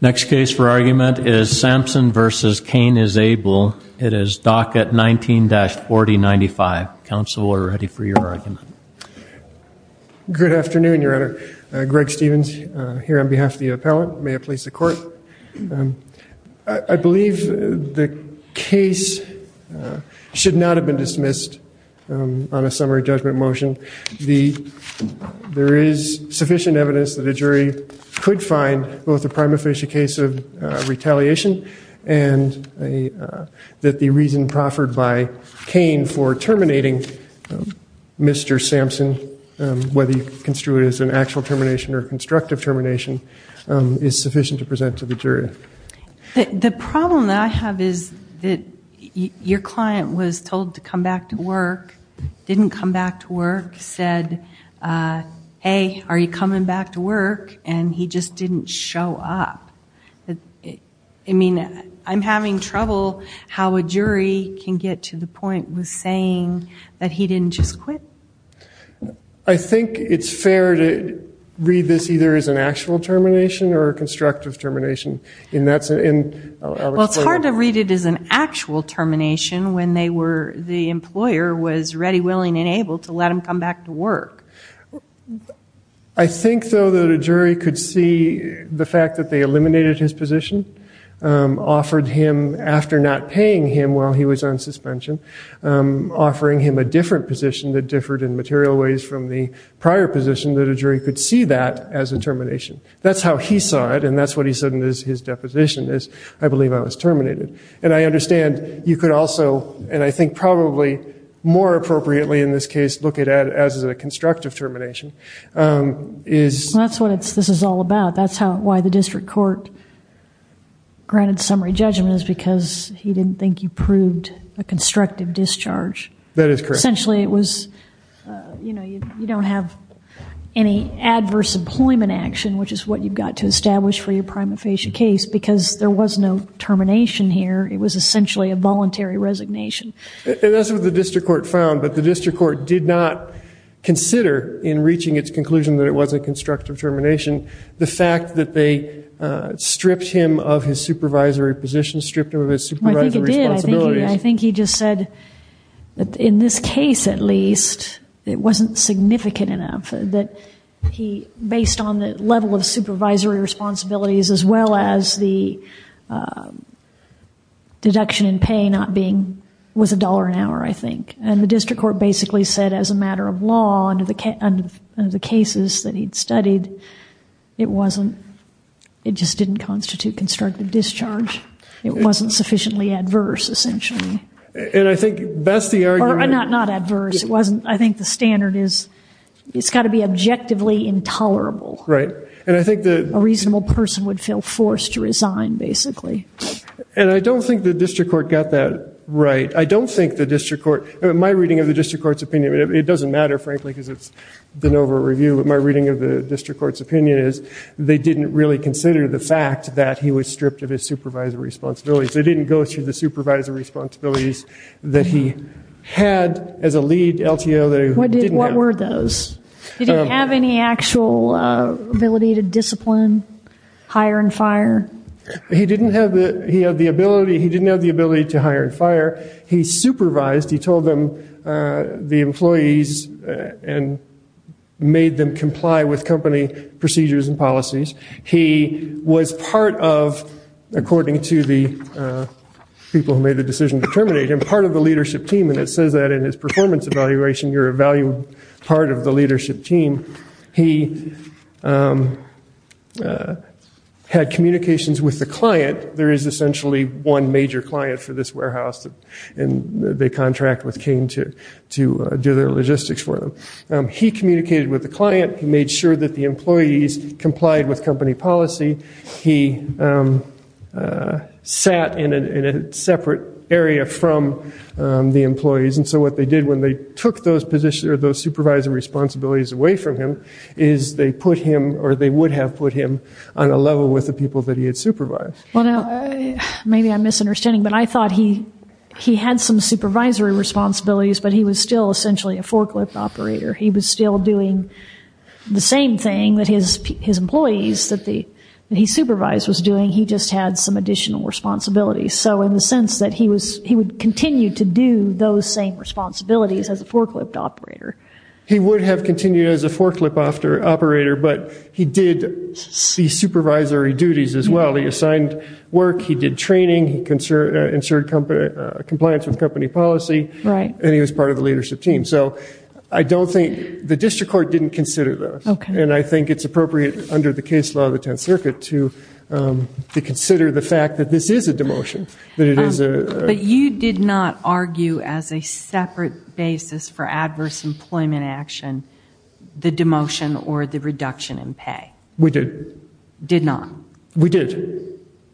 Next case for argument is Sampson v. Kane Is Able. It is docket 19-4095. Counsel are ready for your argument. Good afternoon, your honor. Greg Stevens here on behalf of the appellate. May I please the court? I believe the case should not have been dismissed on a summary judgment motion. There is sufficient evidence that a jury could find both a prima facie case of retaliation and that the reason proffered by Kane for terminating Mr. Sampson, whether you construe it as an actual termination or a constructive termination, is sufficient to present to the jury. The problem that I have is that your client was told to come back to work, didn't come back to work, said, hey, are you coming back to work, and he just didn't show up. I mean, I'm having trouble how a jury can get to the point with saying that he didn't just quit. I think it's fair to read this either as an actual termination or a constructive termination. Well, it's hard to read it as an actual termination when the employer was ready, willing, and able to let him come back to work. I think, though, that a jury could see the fact that they eliminated his position, offered him, after not paying him while he was on suspension, offering him a different position that differed in material ways from the prior position, that a jury could see that as a termination. That's how he saw it, and that's what he said in his deposition is, I believe I was terminated. And I understand you could also, and I think probably more appropriately in this case, look at it as a constructive termination. That's what this is all about. That's why the district court granted summary judgment is because he didn't think you proved a constructive discharge. That is correct. Essentially, it was, you know, you don't have any adverse employment action, which is what you've got to establish for your prima facie case, because there was no termination here. It was essentially a voluntary resignation. And that's what the district court found, but the district court did not consider, in reaching its conclusion that it was a constructive termination, the fact that they stripped him of his supervisory position, stripped him of his supervisory responsibilities. I think he just said, in this case at least, it wasn't significant enough that he, based on the level of supervisory responsibilities, as well as the deduction in pay not being, was a dollar an hour, I think. And the district court basically said, as a matter of law, under the cases that he'd studied, it wasn't, it just didn't constitute constructive discharge. It wasn't sufficiently adverse, essentially. And I think that's the argument. Not adverse. It wasn't. I think the standard is, it's got to be objectively intolerable. Right. And I think that a reasonable person would feel forced to resign, basically. And I don't think the district court got that right. I don't think the district court, my reading of the district court's opinion, it doesn't matter, frankly, because it's been over review, but my reading of the district court's opinion is they didn't really consider the fact that he was stripped of his supervisory responsibilities. They didn't go through the supervisory responsibilities that he had as a lead LTO that he didn't have. What were those? Did he have any actual ability to discipline, hire and fire? He didn't have the ability. He didn't have the ability to hire and fire. He supervised. He told them, the employees, and made them comply with company procedures and policies. He was part of, according to the people who made the decision to terminate him, part of the leadership team. And it says that in his performance evaluation, you're a valued part of the leadership team. He had communications with the client. There is essentially one major client for this warehouse, and they contract with Kane to do their logistics for them. He communicated with the client. He made sure that the employees complied with company policy. He sat in a separate area from the employees. And so what they did when they took those supervisory responsibilities away from him is they put him or they would have put him on a level with the people that he had supervised. Well, now, maybe I'm misunderstanding, but I thought he had some supervisory responsibilities, but he was still essentially a forklift operator. He was still doing the same thing that his employees that he supervised was doing. He just had some additional responsibilities. So in the sense that he would continue to do those same responsibilities as a forklift operator. He would have continued as a forklift operator, but he did see supervisory duties as well. He assigned work. He did training. He ensured compliance with company policy. Right. And he was part of the leadership team. So I don't think the district court didn't consider those. And I think it's appropriate under the case law of the 10th Circuit to consider the fact that this is a demotion, that it is a. But you did not argue as a separate basis for adverse employment action, the demotion or the reduction in pay. We did. Did not. We did.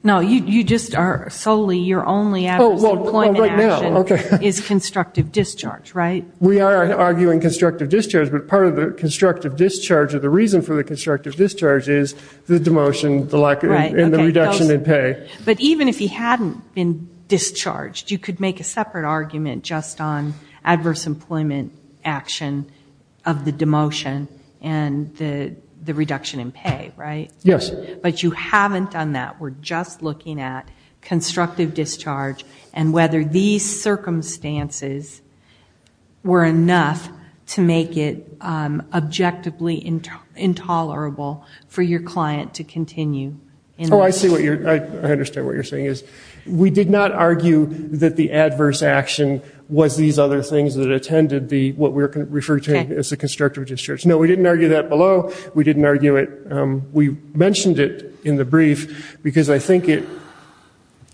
No, you just are solely your only adverse employment action is constructive discharge, right? We are arguing constructive discharge, but part of the constructive discharge or the constructive discharge is the demotion, the reduction in pay. But even if he hadn't been discharged, you could make a separate argument just on adverse employment action of the demotion and the reduction in pay, right? Yes. But you haven't done that. We're just looking at constructive discharge and whether these for your client to continue. Oh, I see what you're. I understand what you're saying is we did not argue that the adverse action was these other things that attended the what we refer to as a constructive discharge. No, we didn't argue that below. We didn't argue it. We mentioned it in the brief because I think it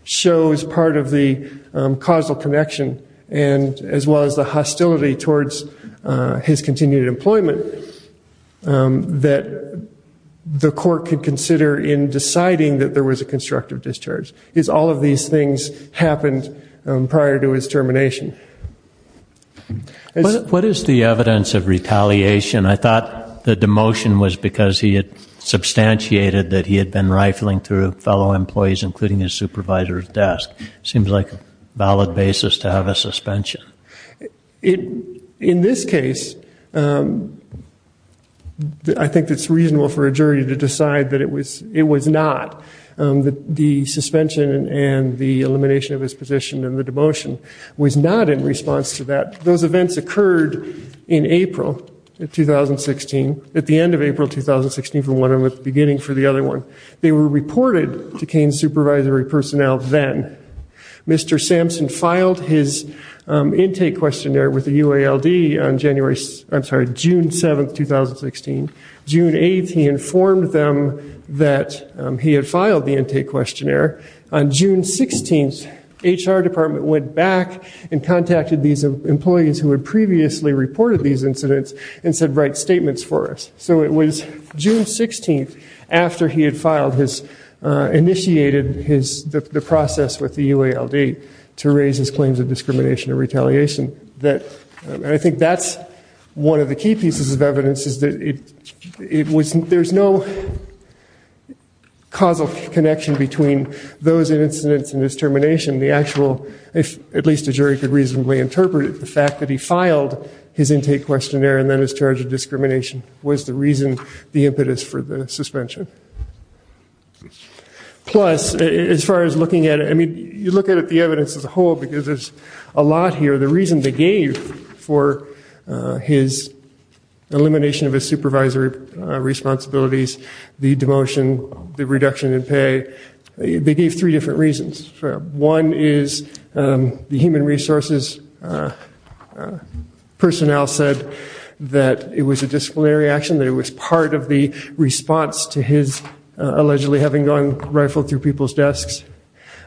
shows part of the causal connection and as well as the hostility towards his continued employment that the court could consider in deciding that there was a constructive discharge is all of these things happened prior to his termination. What is the evidence of retaliation? I thought the demotion was because he had substantiated that he had been rifling through fellow employees, including his supervisor's desk. Seems like a valid basis to have a suspension. It in this case, I think it's reasonable for a jury to decide that it was it was not the suspension and the elimination of his position and the demotion was not in response to that. Those events occurred in April 2016 at the end of April 2016 for one of the beginning for the other one. They were reported to Kane supervisory personnel. Then Mr. Sampson filed his intake questionnaire with the UALD on January, I'm sorry, June 7th, 2016. June 8th, he informed them that he had filed the intake questionnaire. On June 16th, HR department went back and contacted these employees who had previously reported these incidents and said, write statements for us. So it was June 16th after he had filed his initiated his the process with the UALD to raise his claims of discrimination and retaliation that I think that's one of the key pieces of evidence is that it was there's no causal connection between those incidents and his termination. The actual, if at least a jury could reasonably interpret it, the fact that he filed his intake questionnaire and then is charged with discrimination was the reason, the impetus for the suspension. Plus as far as looking at it, I mean you look at the evidence as a whole because there's a lot here. The reason they gave for his elimination of his supervisory responsibilities, the demotion, the reduction in pay, they gave three different reasons. One is the human resources personnel said that it was a disciplinary action, that it was part of the response to his allegedly having gone rifled through people's desks.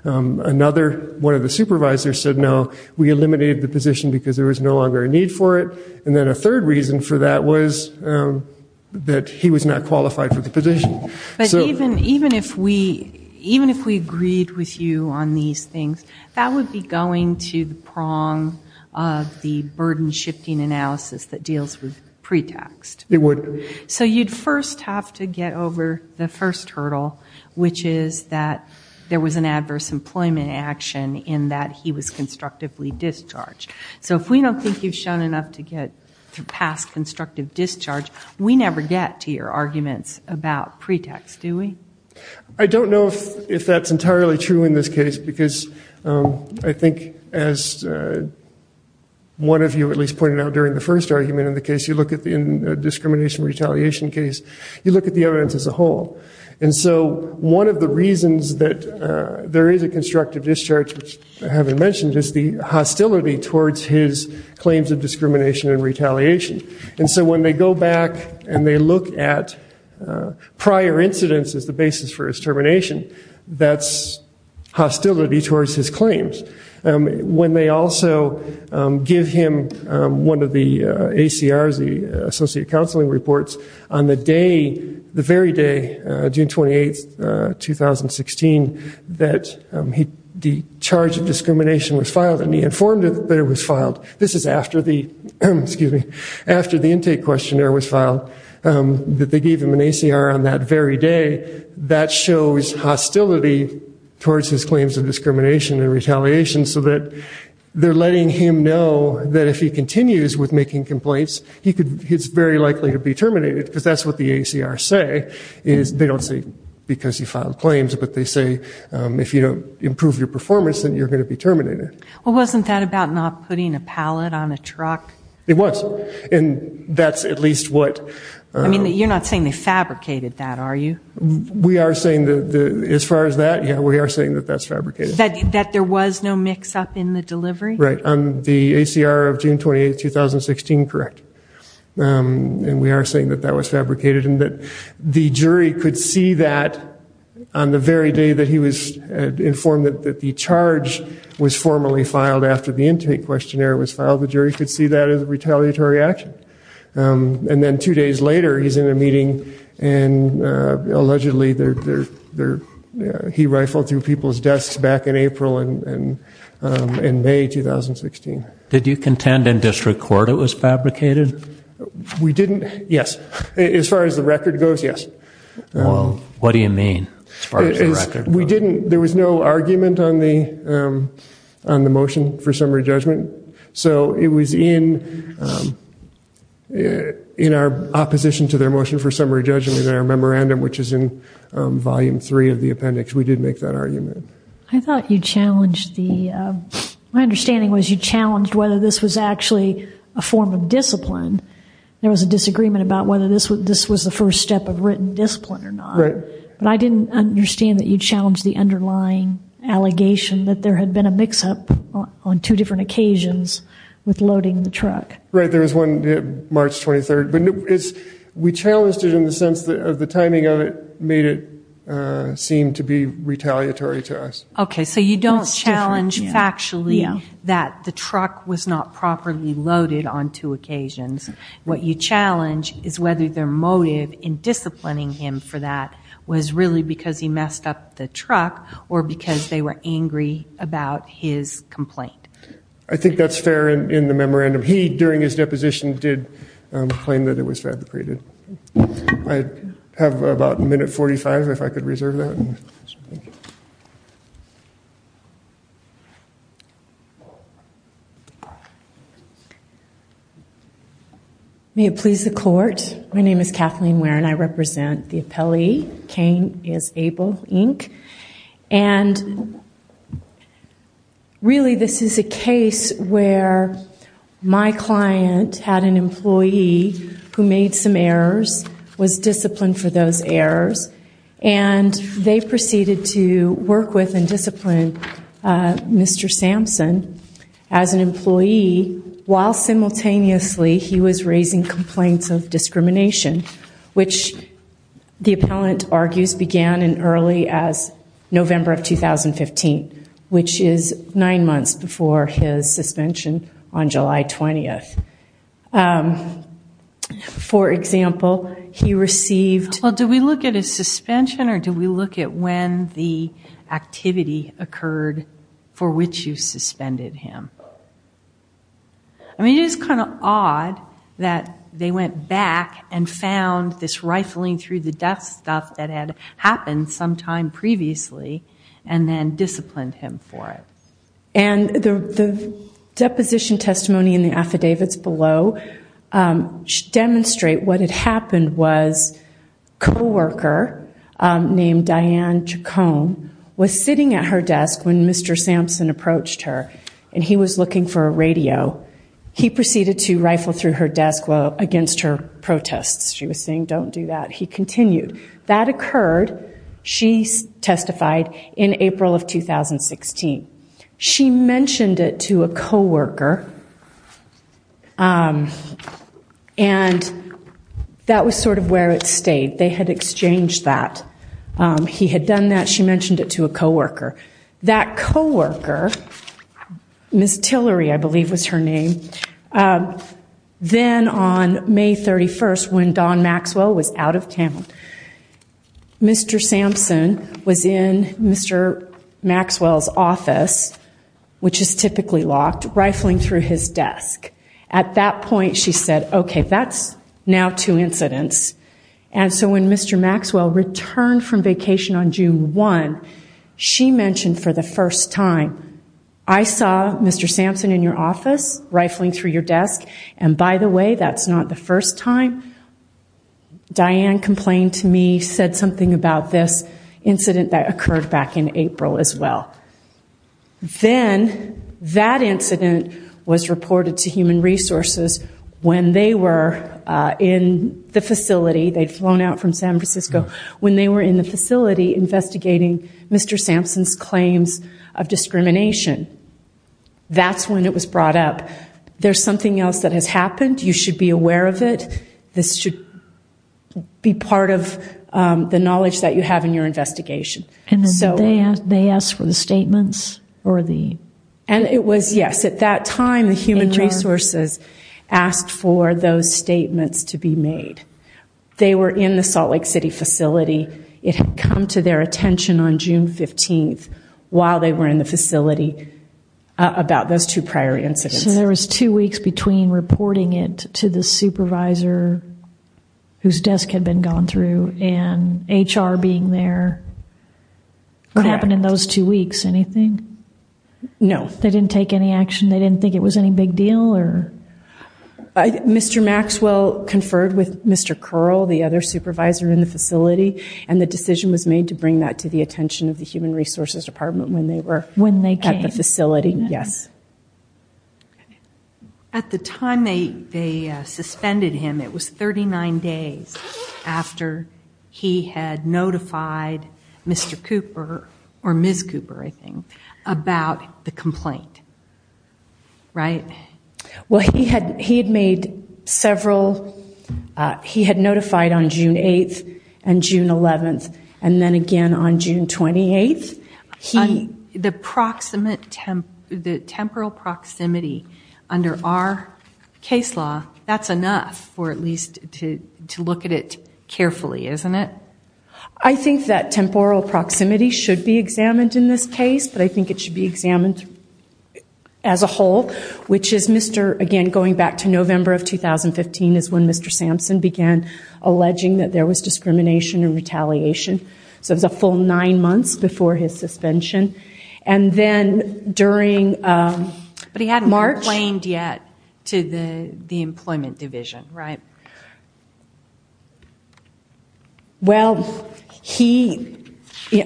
Another, one of the supervisors said no, we eliminated the position because there was no longer a need for it. And then a third reason for that was that he was not qualified for the position. But even if we agreed with you on these things, that would be going to the prong of the burden shifting analysis that deals with pre-taxed. It would. So you'd first have to get over the first hurdle, which is that there was an adverse employment action in that he was constructively discharged. So if we don't think you've shown enough to get past constructive discharge, we never get to your arguments about pre-tax, do we? I don't know if that's entirely true in this case because I think as one of you at least pointed out during the first argument in the case, you look at the discrimination retaliation case, you look at the evidence as a whole. And so one of the reasons that there is a constructive discharge, which I haven't mentioned, is the hostility towards his claims of discrimination and retaliation. And so when they go back and they look at prior incidents as the basis for his termination, that's hostility towards his claims. When they also give him one of the ACRs, associate counseling reports, on the day, the very day, June 28, 2016, that the charge of discrimination was filed and he informed that it was filed. This is after the intake questionnaire was filed, that they gave him an ACR on that very day. That shows hostility towards his claims of discrimination and retaliation so that they're letting him know that if he continues with making complaints, he's very likely to be terminated because that's what the ACRs say. They don't say because he filed claims, but they say if you don't improve your performance, then you're going to be terminated. Well, wasn't that about not putting a pallet on a truck? It was. And that's at least what... I mean, you're not saying they fabricated that, are you? We are saying that as far as that, yeah, we are saying that that's fabricated. That there was no mix-up in the delivery? Right. On the ACR of June 28, 2016, correct. And we are saying that that was fabricated and that the jury could see that on the very day that he was informed that the charge was formally filed after the intake questionnaire was filed. The jury could see that as retaliatory action. And then two days later, he's in a meeting and allegedly, he rifled through people's records in April and May 2016. Did you contend in district court it was fabricated? We didn't. Yes. As far as the record goes, yes. Well, what do you mean, as far as the record goes? We didn't. There was no argument on the motion for summary judgment. So it was in our opposition to their motion for summary judgment in our memorandum, which is in volume three of the appendix, we did make that argument. I thought you challenged the, my understanding was you challenged whether this was actually a form of discipline. There was a disagreement about whether this was the first step of written discipline or not. Right. But I didn't understand that you challenged the underlying allegation that there had been a mix-up on two different occasions with loading the truck. Right. There was one March 23rd. But we challenged it in the sense that the timing of it made it seem to be retaliatory to us. Okay. So you don't challenge factually that the truck was not properly loaded on two occasions. What you challenge is whether their motive in disciplining him for that was really because he messed up the truck or because they were angry about his complaint. I think that's fair in the memorandum. He, during his deposition, did claim that it was fabricated. I have about a minute 45 if I could reserve that. May it please the court. My name is Kathleen Ware and I represent the appellee. Kane is Abel, Inc. And really this is a case where my client had an employee who made some errors, was disciplined for those errors, and they proceeded to work with and discipline Mr. Sampson as an employee while simultaneously he was raising complaints of discrimination, which the appellant argues began as early as November of 2015, which is for example, he received... Well, do we look at his suspension or do we look at when the activity occurred for which you suspended him? I mean, it is kind of odd that they went back and found this rifling through the desk stuff that had happened sometime previously and then disciplined him for it. And the deposition testimony in the affidavits below demonstrate what had happened was co-worker named Diane Chacon was sitting at her desk when Mr. Sampson approached her and he was looking for a radio. He proceeded to rifle through her desk against her protests. She was saying, she mentioned it to a co-worker and that was sort of where it stayed. They had exchanged that. He had done that. She mentioned it to a co-worker. That co-worker, Ms. Tillery, I believe was her name, then on May 31st when Don Maxwell was out of town, Mr. Sampson was in Mr. Maxwell's office, which is typically locked, rifling through his desk. At that point, she said, okay, that's now two incidents. And so when Mr. Maxwell returned from vacation on June 1, she mentioned for the first time, I saw Mr. Sampson in your office rifling through your desk. And by the way, that's not the first time Diane complained to me, said something about this incident that occurred back in April as well. Then that incident was reported to human resources when they were in the facility, they'd flown out from San Francisco, when they were in the facility investigating Mr. Sampson's claims of discrimination. That's when it was brought up. There's something else that has happened. You should be aware of it. This should be part of the knowledge that you have in your investigation. And then they asked for the statements or the... And it was, yes, at that time, the human resources asked for those statements to be made. They were in the Salt Lake City facility. It had come to their attention on June 15, while they were in the facility about those two prior incidents. So there was two weeks between reporting it to the supervisor whose desk had been gone through and HR being there. What happened in those two weeks? Anything? No. They didn't take any action? They didn't think it was any big deal or? I think Mr. Maxwell conferred with Mr. Curl, the other supervisor in the facility, and the decision was made to bring that to the attention of the human resources department when they were- When they came. At the facility, yes. At the time they suspended him, it was 39 days after he had notified Mr. Cooper, or Ms. Cooper, I think, about the complaint, right? Well, he had notified on June 8th and June 11th, and then again on June 28th. The temporal proximity under our case law, that's enough for at least to look at it carefully, isn't it? I think that temporal proximity should be examined in this case, but I think it should be examined as a whole, which is Mr., again, going back to November of 2015 is when Mr. Sampson began alleging that there was discrimination and retaliation. So it was a full nine months before his suspension. And then during- But he hadn't complained yet to the employment division, right? Well, he,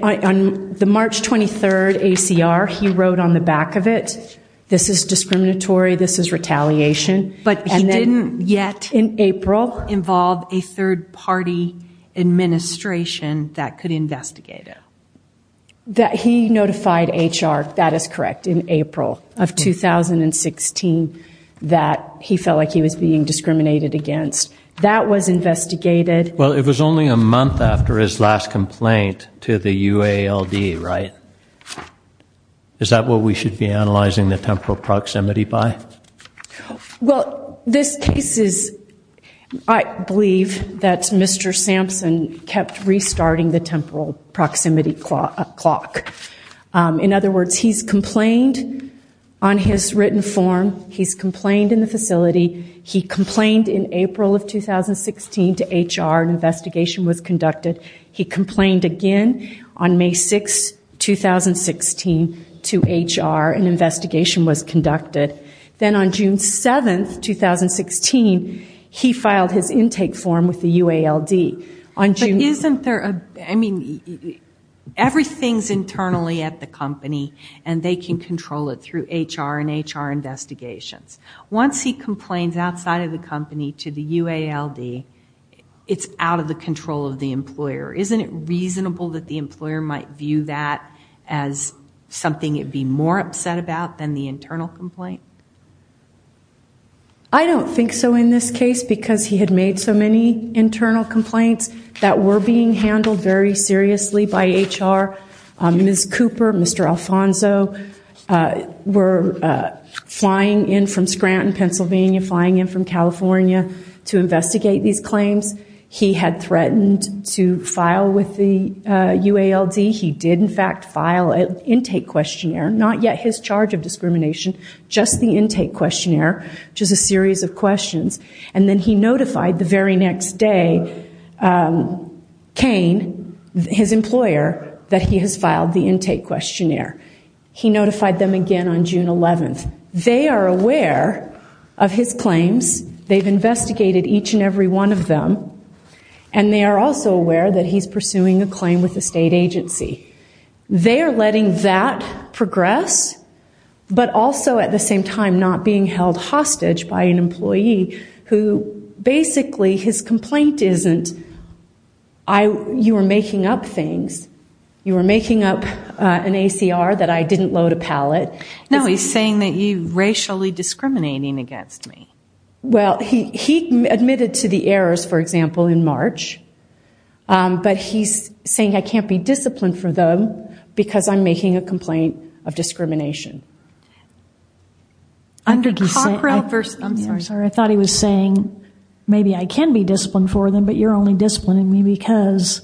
on the March 23rd ACR, he wrote on the back of it, this is discriminatory, this is retaliation. But he didn't yet- In April. Involve a third party administration that could investigate it. That he notified HR, that is correct, in April of 2016 that he felt like he was being discriminated against. That was investigated. Well, it was only a month after his last complaint to the UALD, right? Is that what we should be analyzing the temporal proximity by? Well, this case is, I believe that Mr. Sampson kept restarting the temporal proximity clock. In other words, he's complained on his written form. He's complained in the facility. He complained in April of 2016 to HR. An investigation was conducted. He complained again on May 6th, 2016 to HR. An investigation was conducted. Then on June 7th, 2016, he filed his intake form with the UALD. On June- Isn't there a- I mean, everything's internally at the company. And they can control it through HR and HR investigations. Once he complains outside of the company to the UALD, it's out of the control of the employer. Isn't it reasonable that the employer might view that as something it'd be more upset about than the internal complaint? I don't think so in this case because he had made so many internal complaints that were being handled very seriously by HR. Ms. Cooper, Mr. Alfonso were flying in from Scranton, Pennsylvania, flying in from California to investigate these claims. He had threatened to file with the UALD. He did, in fact, file an intake questionnaire. Not yet his charge of discrimination, just the intake questionnaire, which is a series of questions. And then he notified the very next day Kane, his employer, that he has filed the intake questionnaire. He notified them again on June 11th. They are aware of his claims. They've investigated each and every one of them. And they are also aware that he's pursuing a claim with a state agency. They are letting that progress, but also at the same time not being held hostage by an attorney who basically his complaint isn't you were making up things. You were making up an ACR that I didn't load a pallet. No, he's saying that you're racially discriminating against me. Well, he admitted to the errors, for example, in March, but he's saying I can't be disciplined for them because I'm making a complaint of discrimination. I'm sorry, I thought he was saying maybe I can be disciplined for them, but you're only disciplining me because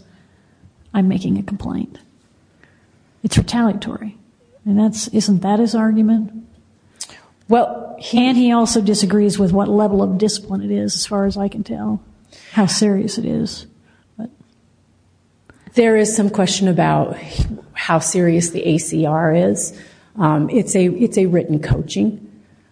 I'm making a complaint. It's retaliatory. And isn't that his argument? Well, and he also disagrees with what level of discipline it is, as far as I can tell, how serious it is. There is some question about how serious the ACR is. It's a written coaching.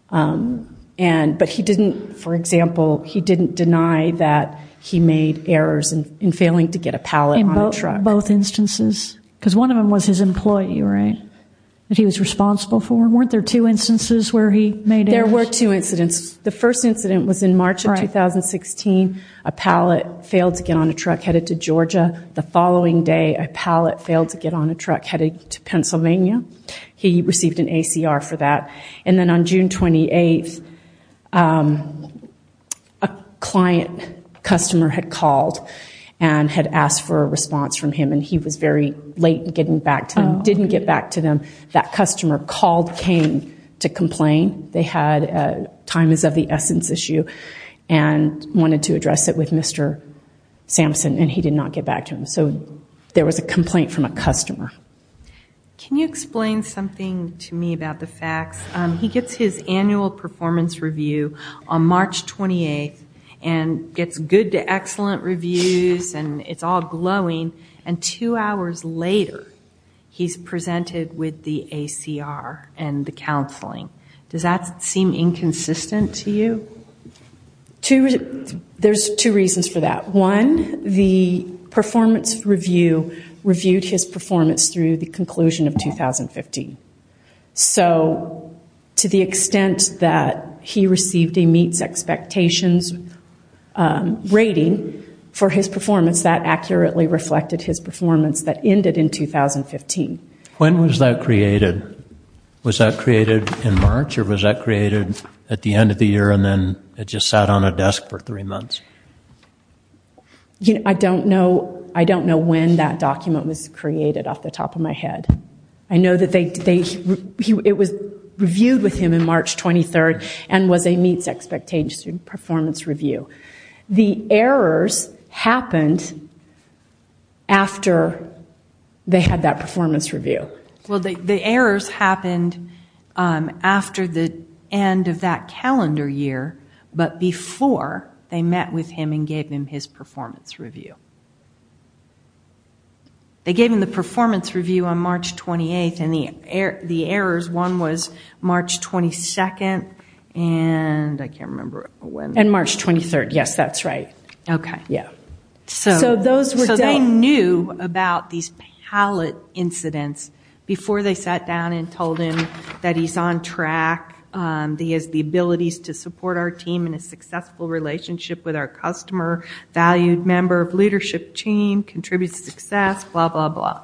But he didn't, for example, he didn't deny that he made errors in failing to get a pallet on a truck. Both instances? Because one of them was his employee, right? That he was responsible for? Weren't there two instances where he made errors? There were two incidents. The first incident was in March of 2016. A pallet failed to get on a truck headed to Georgia. The following day, a pallet failed to get on a truck headed to Pennsylvania. He received an ACR for that. And then on June 28th, a client customer had called and had asked for a response from him. And he was very late in getting back to them, didn't get back to them. That customer called, came to complain. They had a time is of the essence issue and wanted to address it with Mr. Sampson. And he did not get back to him. So there was a complaint from a customer. Can you explain something to me about the facts? He gets his annual performance review on March 28th and gets good to excellent reviews. And it's all glowing. And two hours later, he's presented with the ACR and the counseling. Does that seem inconsistent to you? There's two reasons for that. One, the performance review reviewed his performance through the conclusion of 2015. So to the extent that he received a meets expectations rating for his performance, that accurately reflected his performance that ended in 2015. When was that created? Was that created in March or was that created at the end of the year and then it just sat on a desk for three months? I don't know. I don't know when that document was created off the top of my head. I know that it was reviewed with him in March 23rd and was a meets expectations performance review. The errors happened after they had that performance review. Well, the errors happened after the end of that calendar year. But before they met with him and gave him his performance review. They gave him the performance review on March 28th and the errors, one was March 22nd and I can't remember when. And March 23rd. Yes, that's right. Okay. Yeah. So they knew about these pallet incidents before they sat down and told him that he's on track. He has the abilities to support our team in a successful relationship with our customer, valued member of leadership team, contributes to success, blah, blah, blah.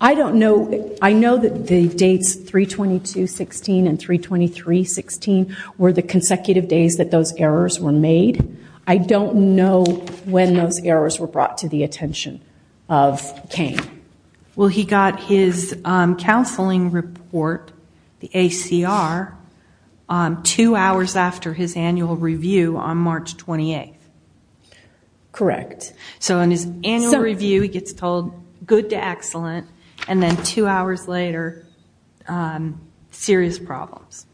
I don't know. I know that the dates 3-22-16 and 3-23-16 were the consecutive days that those errors were made. I don't know when those errors were brought to the attention of Kane. Well, he got his counseling report, the ACR, two hours after his annual review on March 28th. Correct. So in his annual review, he gets told good to excellent. And then two hours later, serious problems.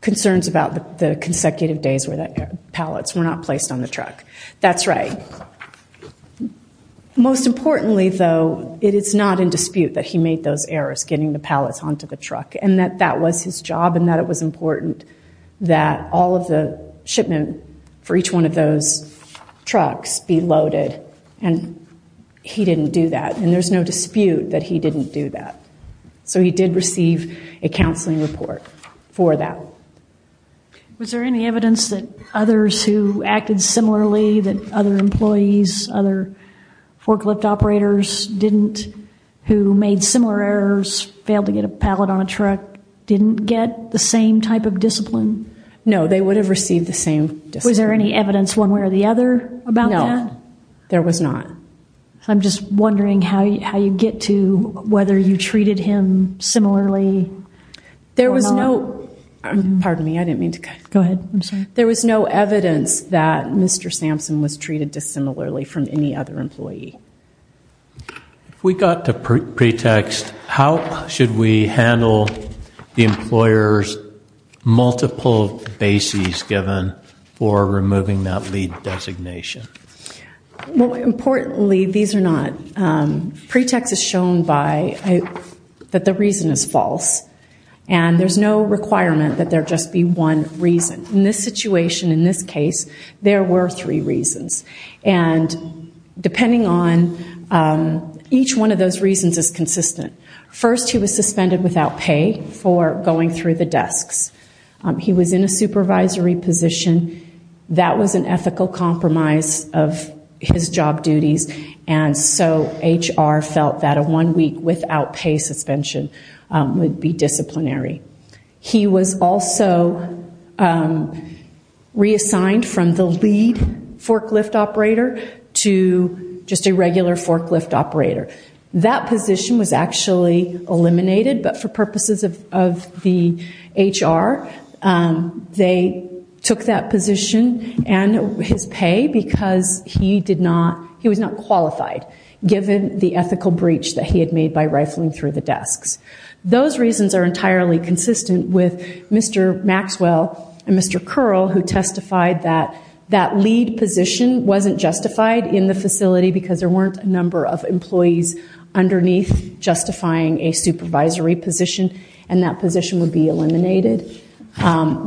Concerns about the consecutive days where the pallets were not placed on the truck. That's right. And most importantly, though, it is not in dispute that he made those errors, getting the pallets onto the truck, and that that was his job and that it was important that all of the shipment for each one of those trucks be loaded. And he didn't do that. And there's no dispute that he didn't do that. So he did receive a counseling report for that. Was there any evidence that others who acted similarly, that other employees, other forklift operators didn't, who made similar errors, failed to get a pallet on a truck, didn't get the same type of discipline? No, they would have received the same discipline. Was there any evidence one way or the other about that? No, there was not. I'm just wondering how you get to whether you treated him similarly or not. There was no, pardon me, I didn't mean to cut. Go ahead, I'm sorry. There was no evidence that Mr. Sampson was treated dissimilarly from any other employee. If we got to pretext, how should we handle the employer's multiple bases given for removing that lead designation? Well, importantly, these are not, pretext is shown by, that the reason is false. And there's no requirement that there just be one reason. In this situation, in this case, there were three reasons. And depending on, each one of those reasons is consistent. First, he was suspended without pay for going through the desks. He was in a supervisory position. That was an ethical compromise of his job duties. And so HR felt that a one week without pay suspension would be disciplinary. He was also reassigned from the lead forklift operator to just a regular forklift operator. That position was actually eliminated, but for purposes of the HR, they took that position and his pay because he did not, he was not qualified given the ethical breach that he had made by rifling through the desks. Those reasons are entirely consistent with Mr. Maxwell and Mr. Curl who testified that that lead position wasn't justified in the facility because there weren't a number of employees underneath justifying a supervisory position. And that position would be eliminated.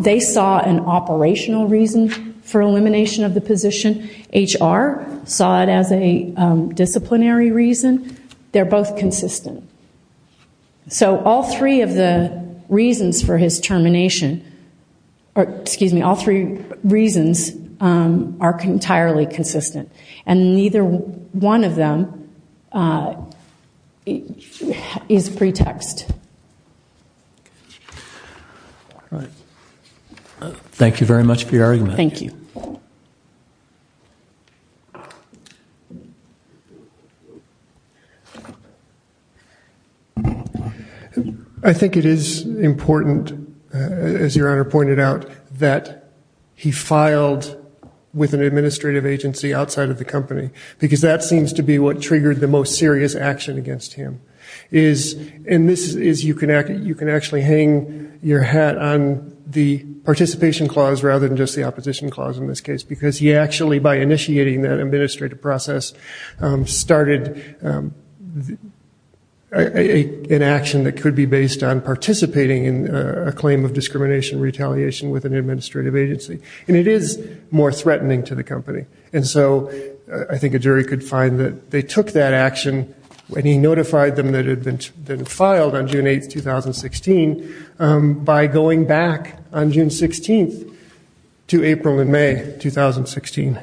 They saw an operational reason for elimination of the position. HR saw it as a disciplinary reason. They're both consistent. So all three of the reasons for his termination, excuse me, all three reasons are entirely consistent. And neither one of them is pretext. All right. Thank you very much for your argument. Thank you. I think it is important, as your Honor pointed out, that he filed with an administrative agency outside of the company because that seems to be what triggered the most serious action against him. And this is, you can actually hang your hat on the participation clause rather than just the opposition clause in this case because he actually, by initiating that administrative process, started an action that could be based on participating in a claim of discrimination retaliation with an administrative agency. And it is more threatening to the company. And so I think a jury could find that they took that action when he notified them that it had been filed on June 8, 2016 by going back on June 16 to April and May 2016.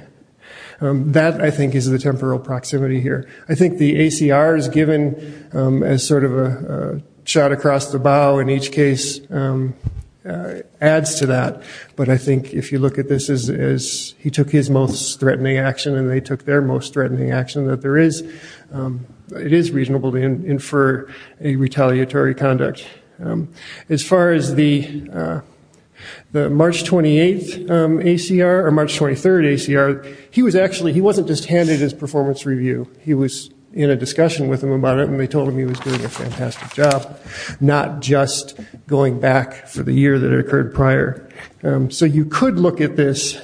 That, I think, is the temporal proximity here. I think the ACR is given as sort of a shot across the bow in each case adds to that. But I think if you look at this as he took his most threatening action and they took their most threatening action, that there is, it is reasonable to infer a retaliatory conduct. As far as the March 28 ACR or March 23 ACR, he was actually, he wasn't just handed his performance review. He was in a discussion with them about it and they told him he was doing a fantastic job, not just going back for the year that occurred prior. So you could look at this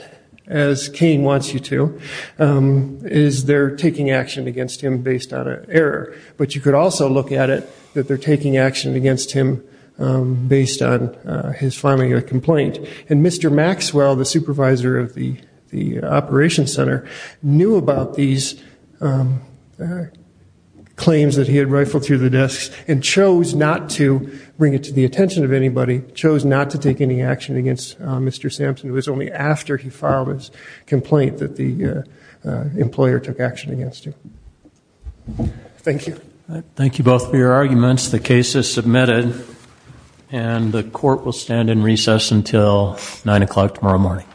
as Cain wants you to, is they're taking action against him based on an error. But you could also look at it that they're taking action against him based on his filing a complaint. And Mr. Maxwell, the supervisor of the operations center, knew about these claims that he had and chose not to bring it to the attention of anybody, chose not to take any action against Mr. Sampson. It was only after he filed his complaint that the employer took action against him. Thank you. Thank you both for your arguments. The case is submitted and the court will stand in recess until 9 o'clock tomorrow morning.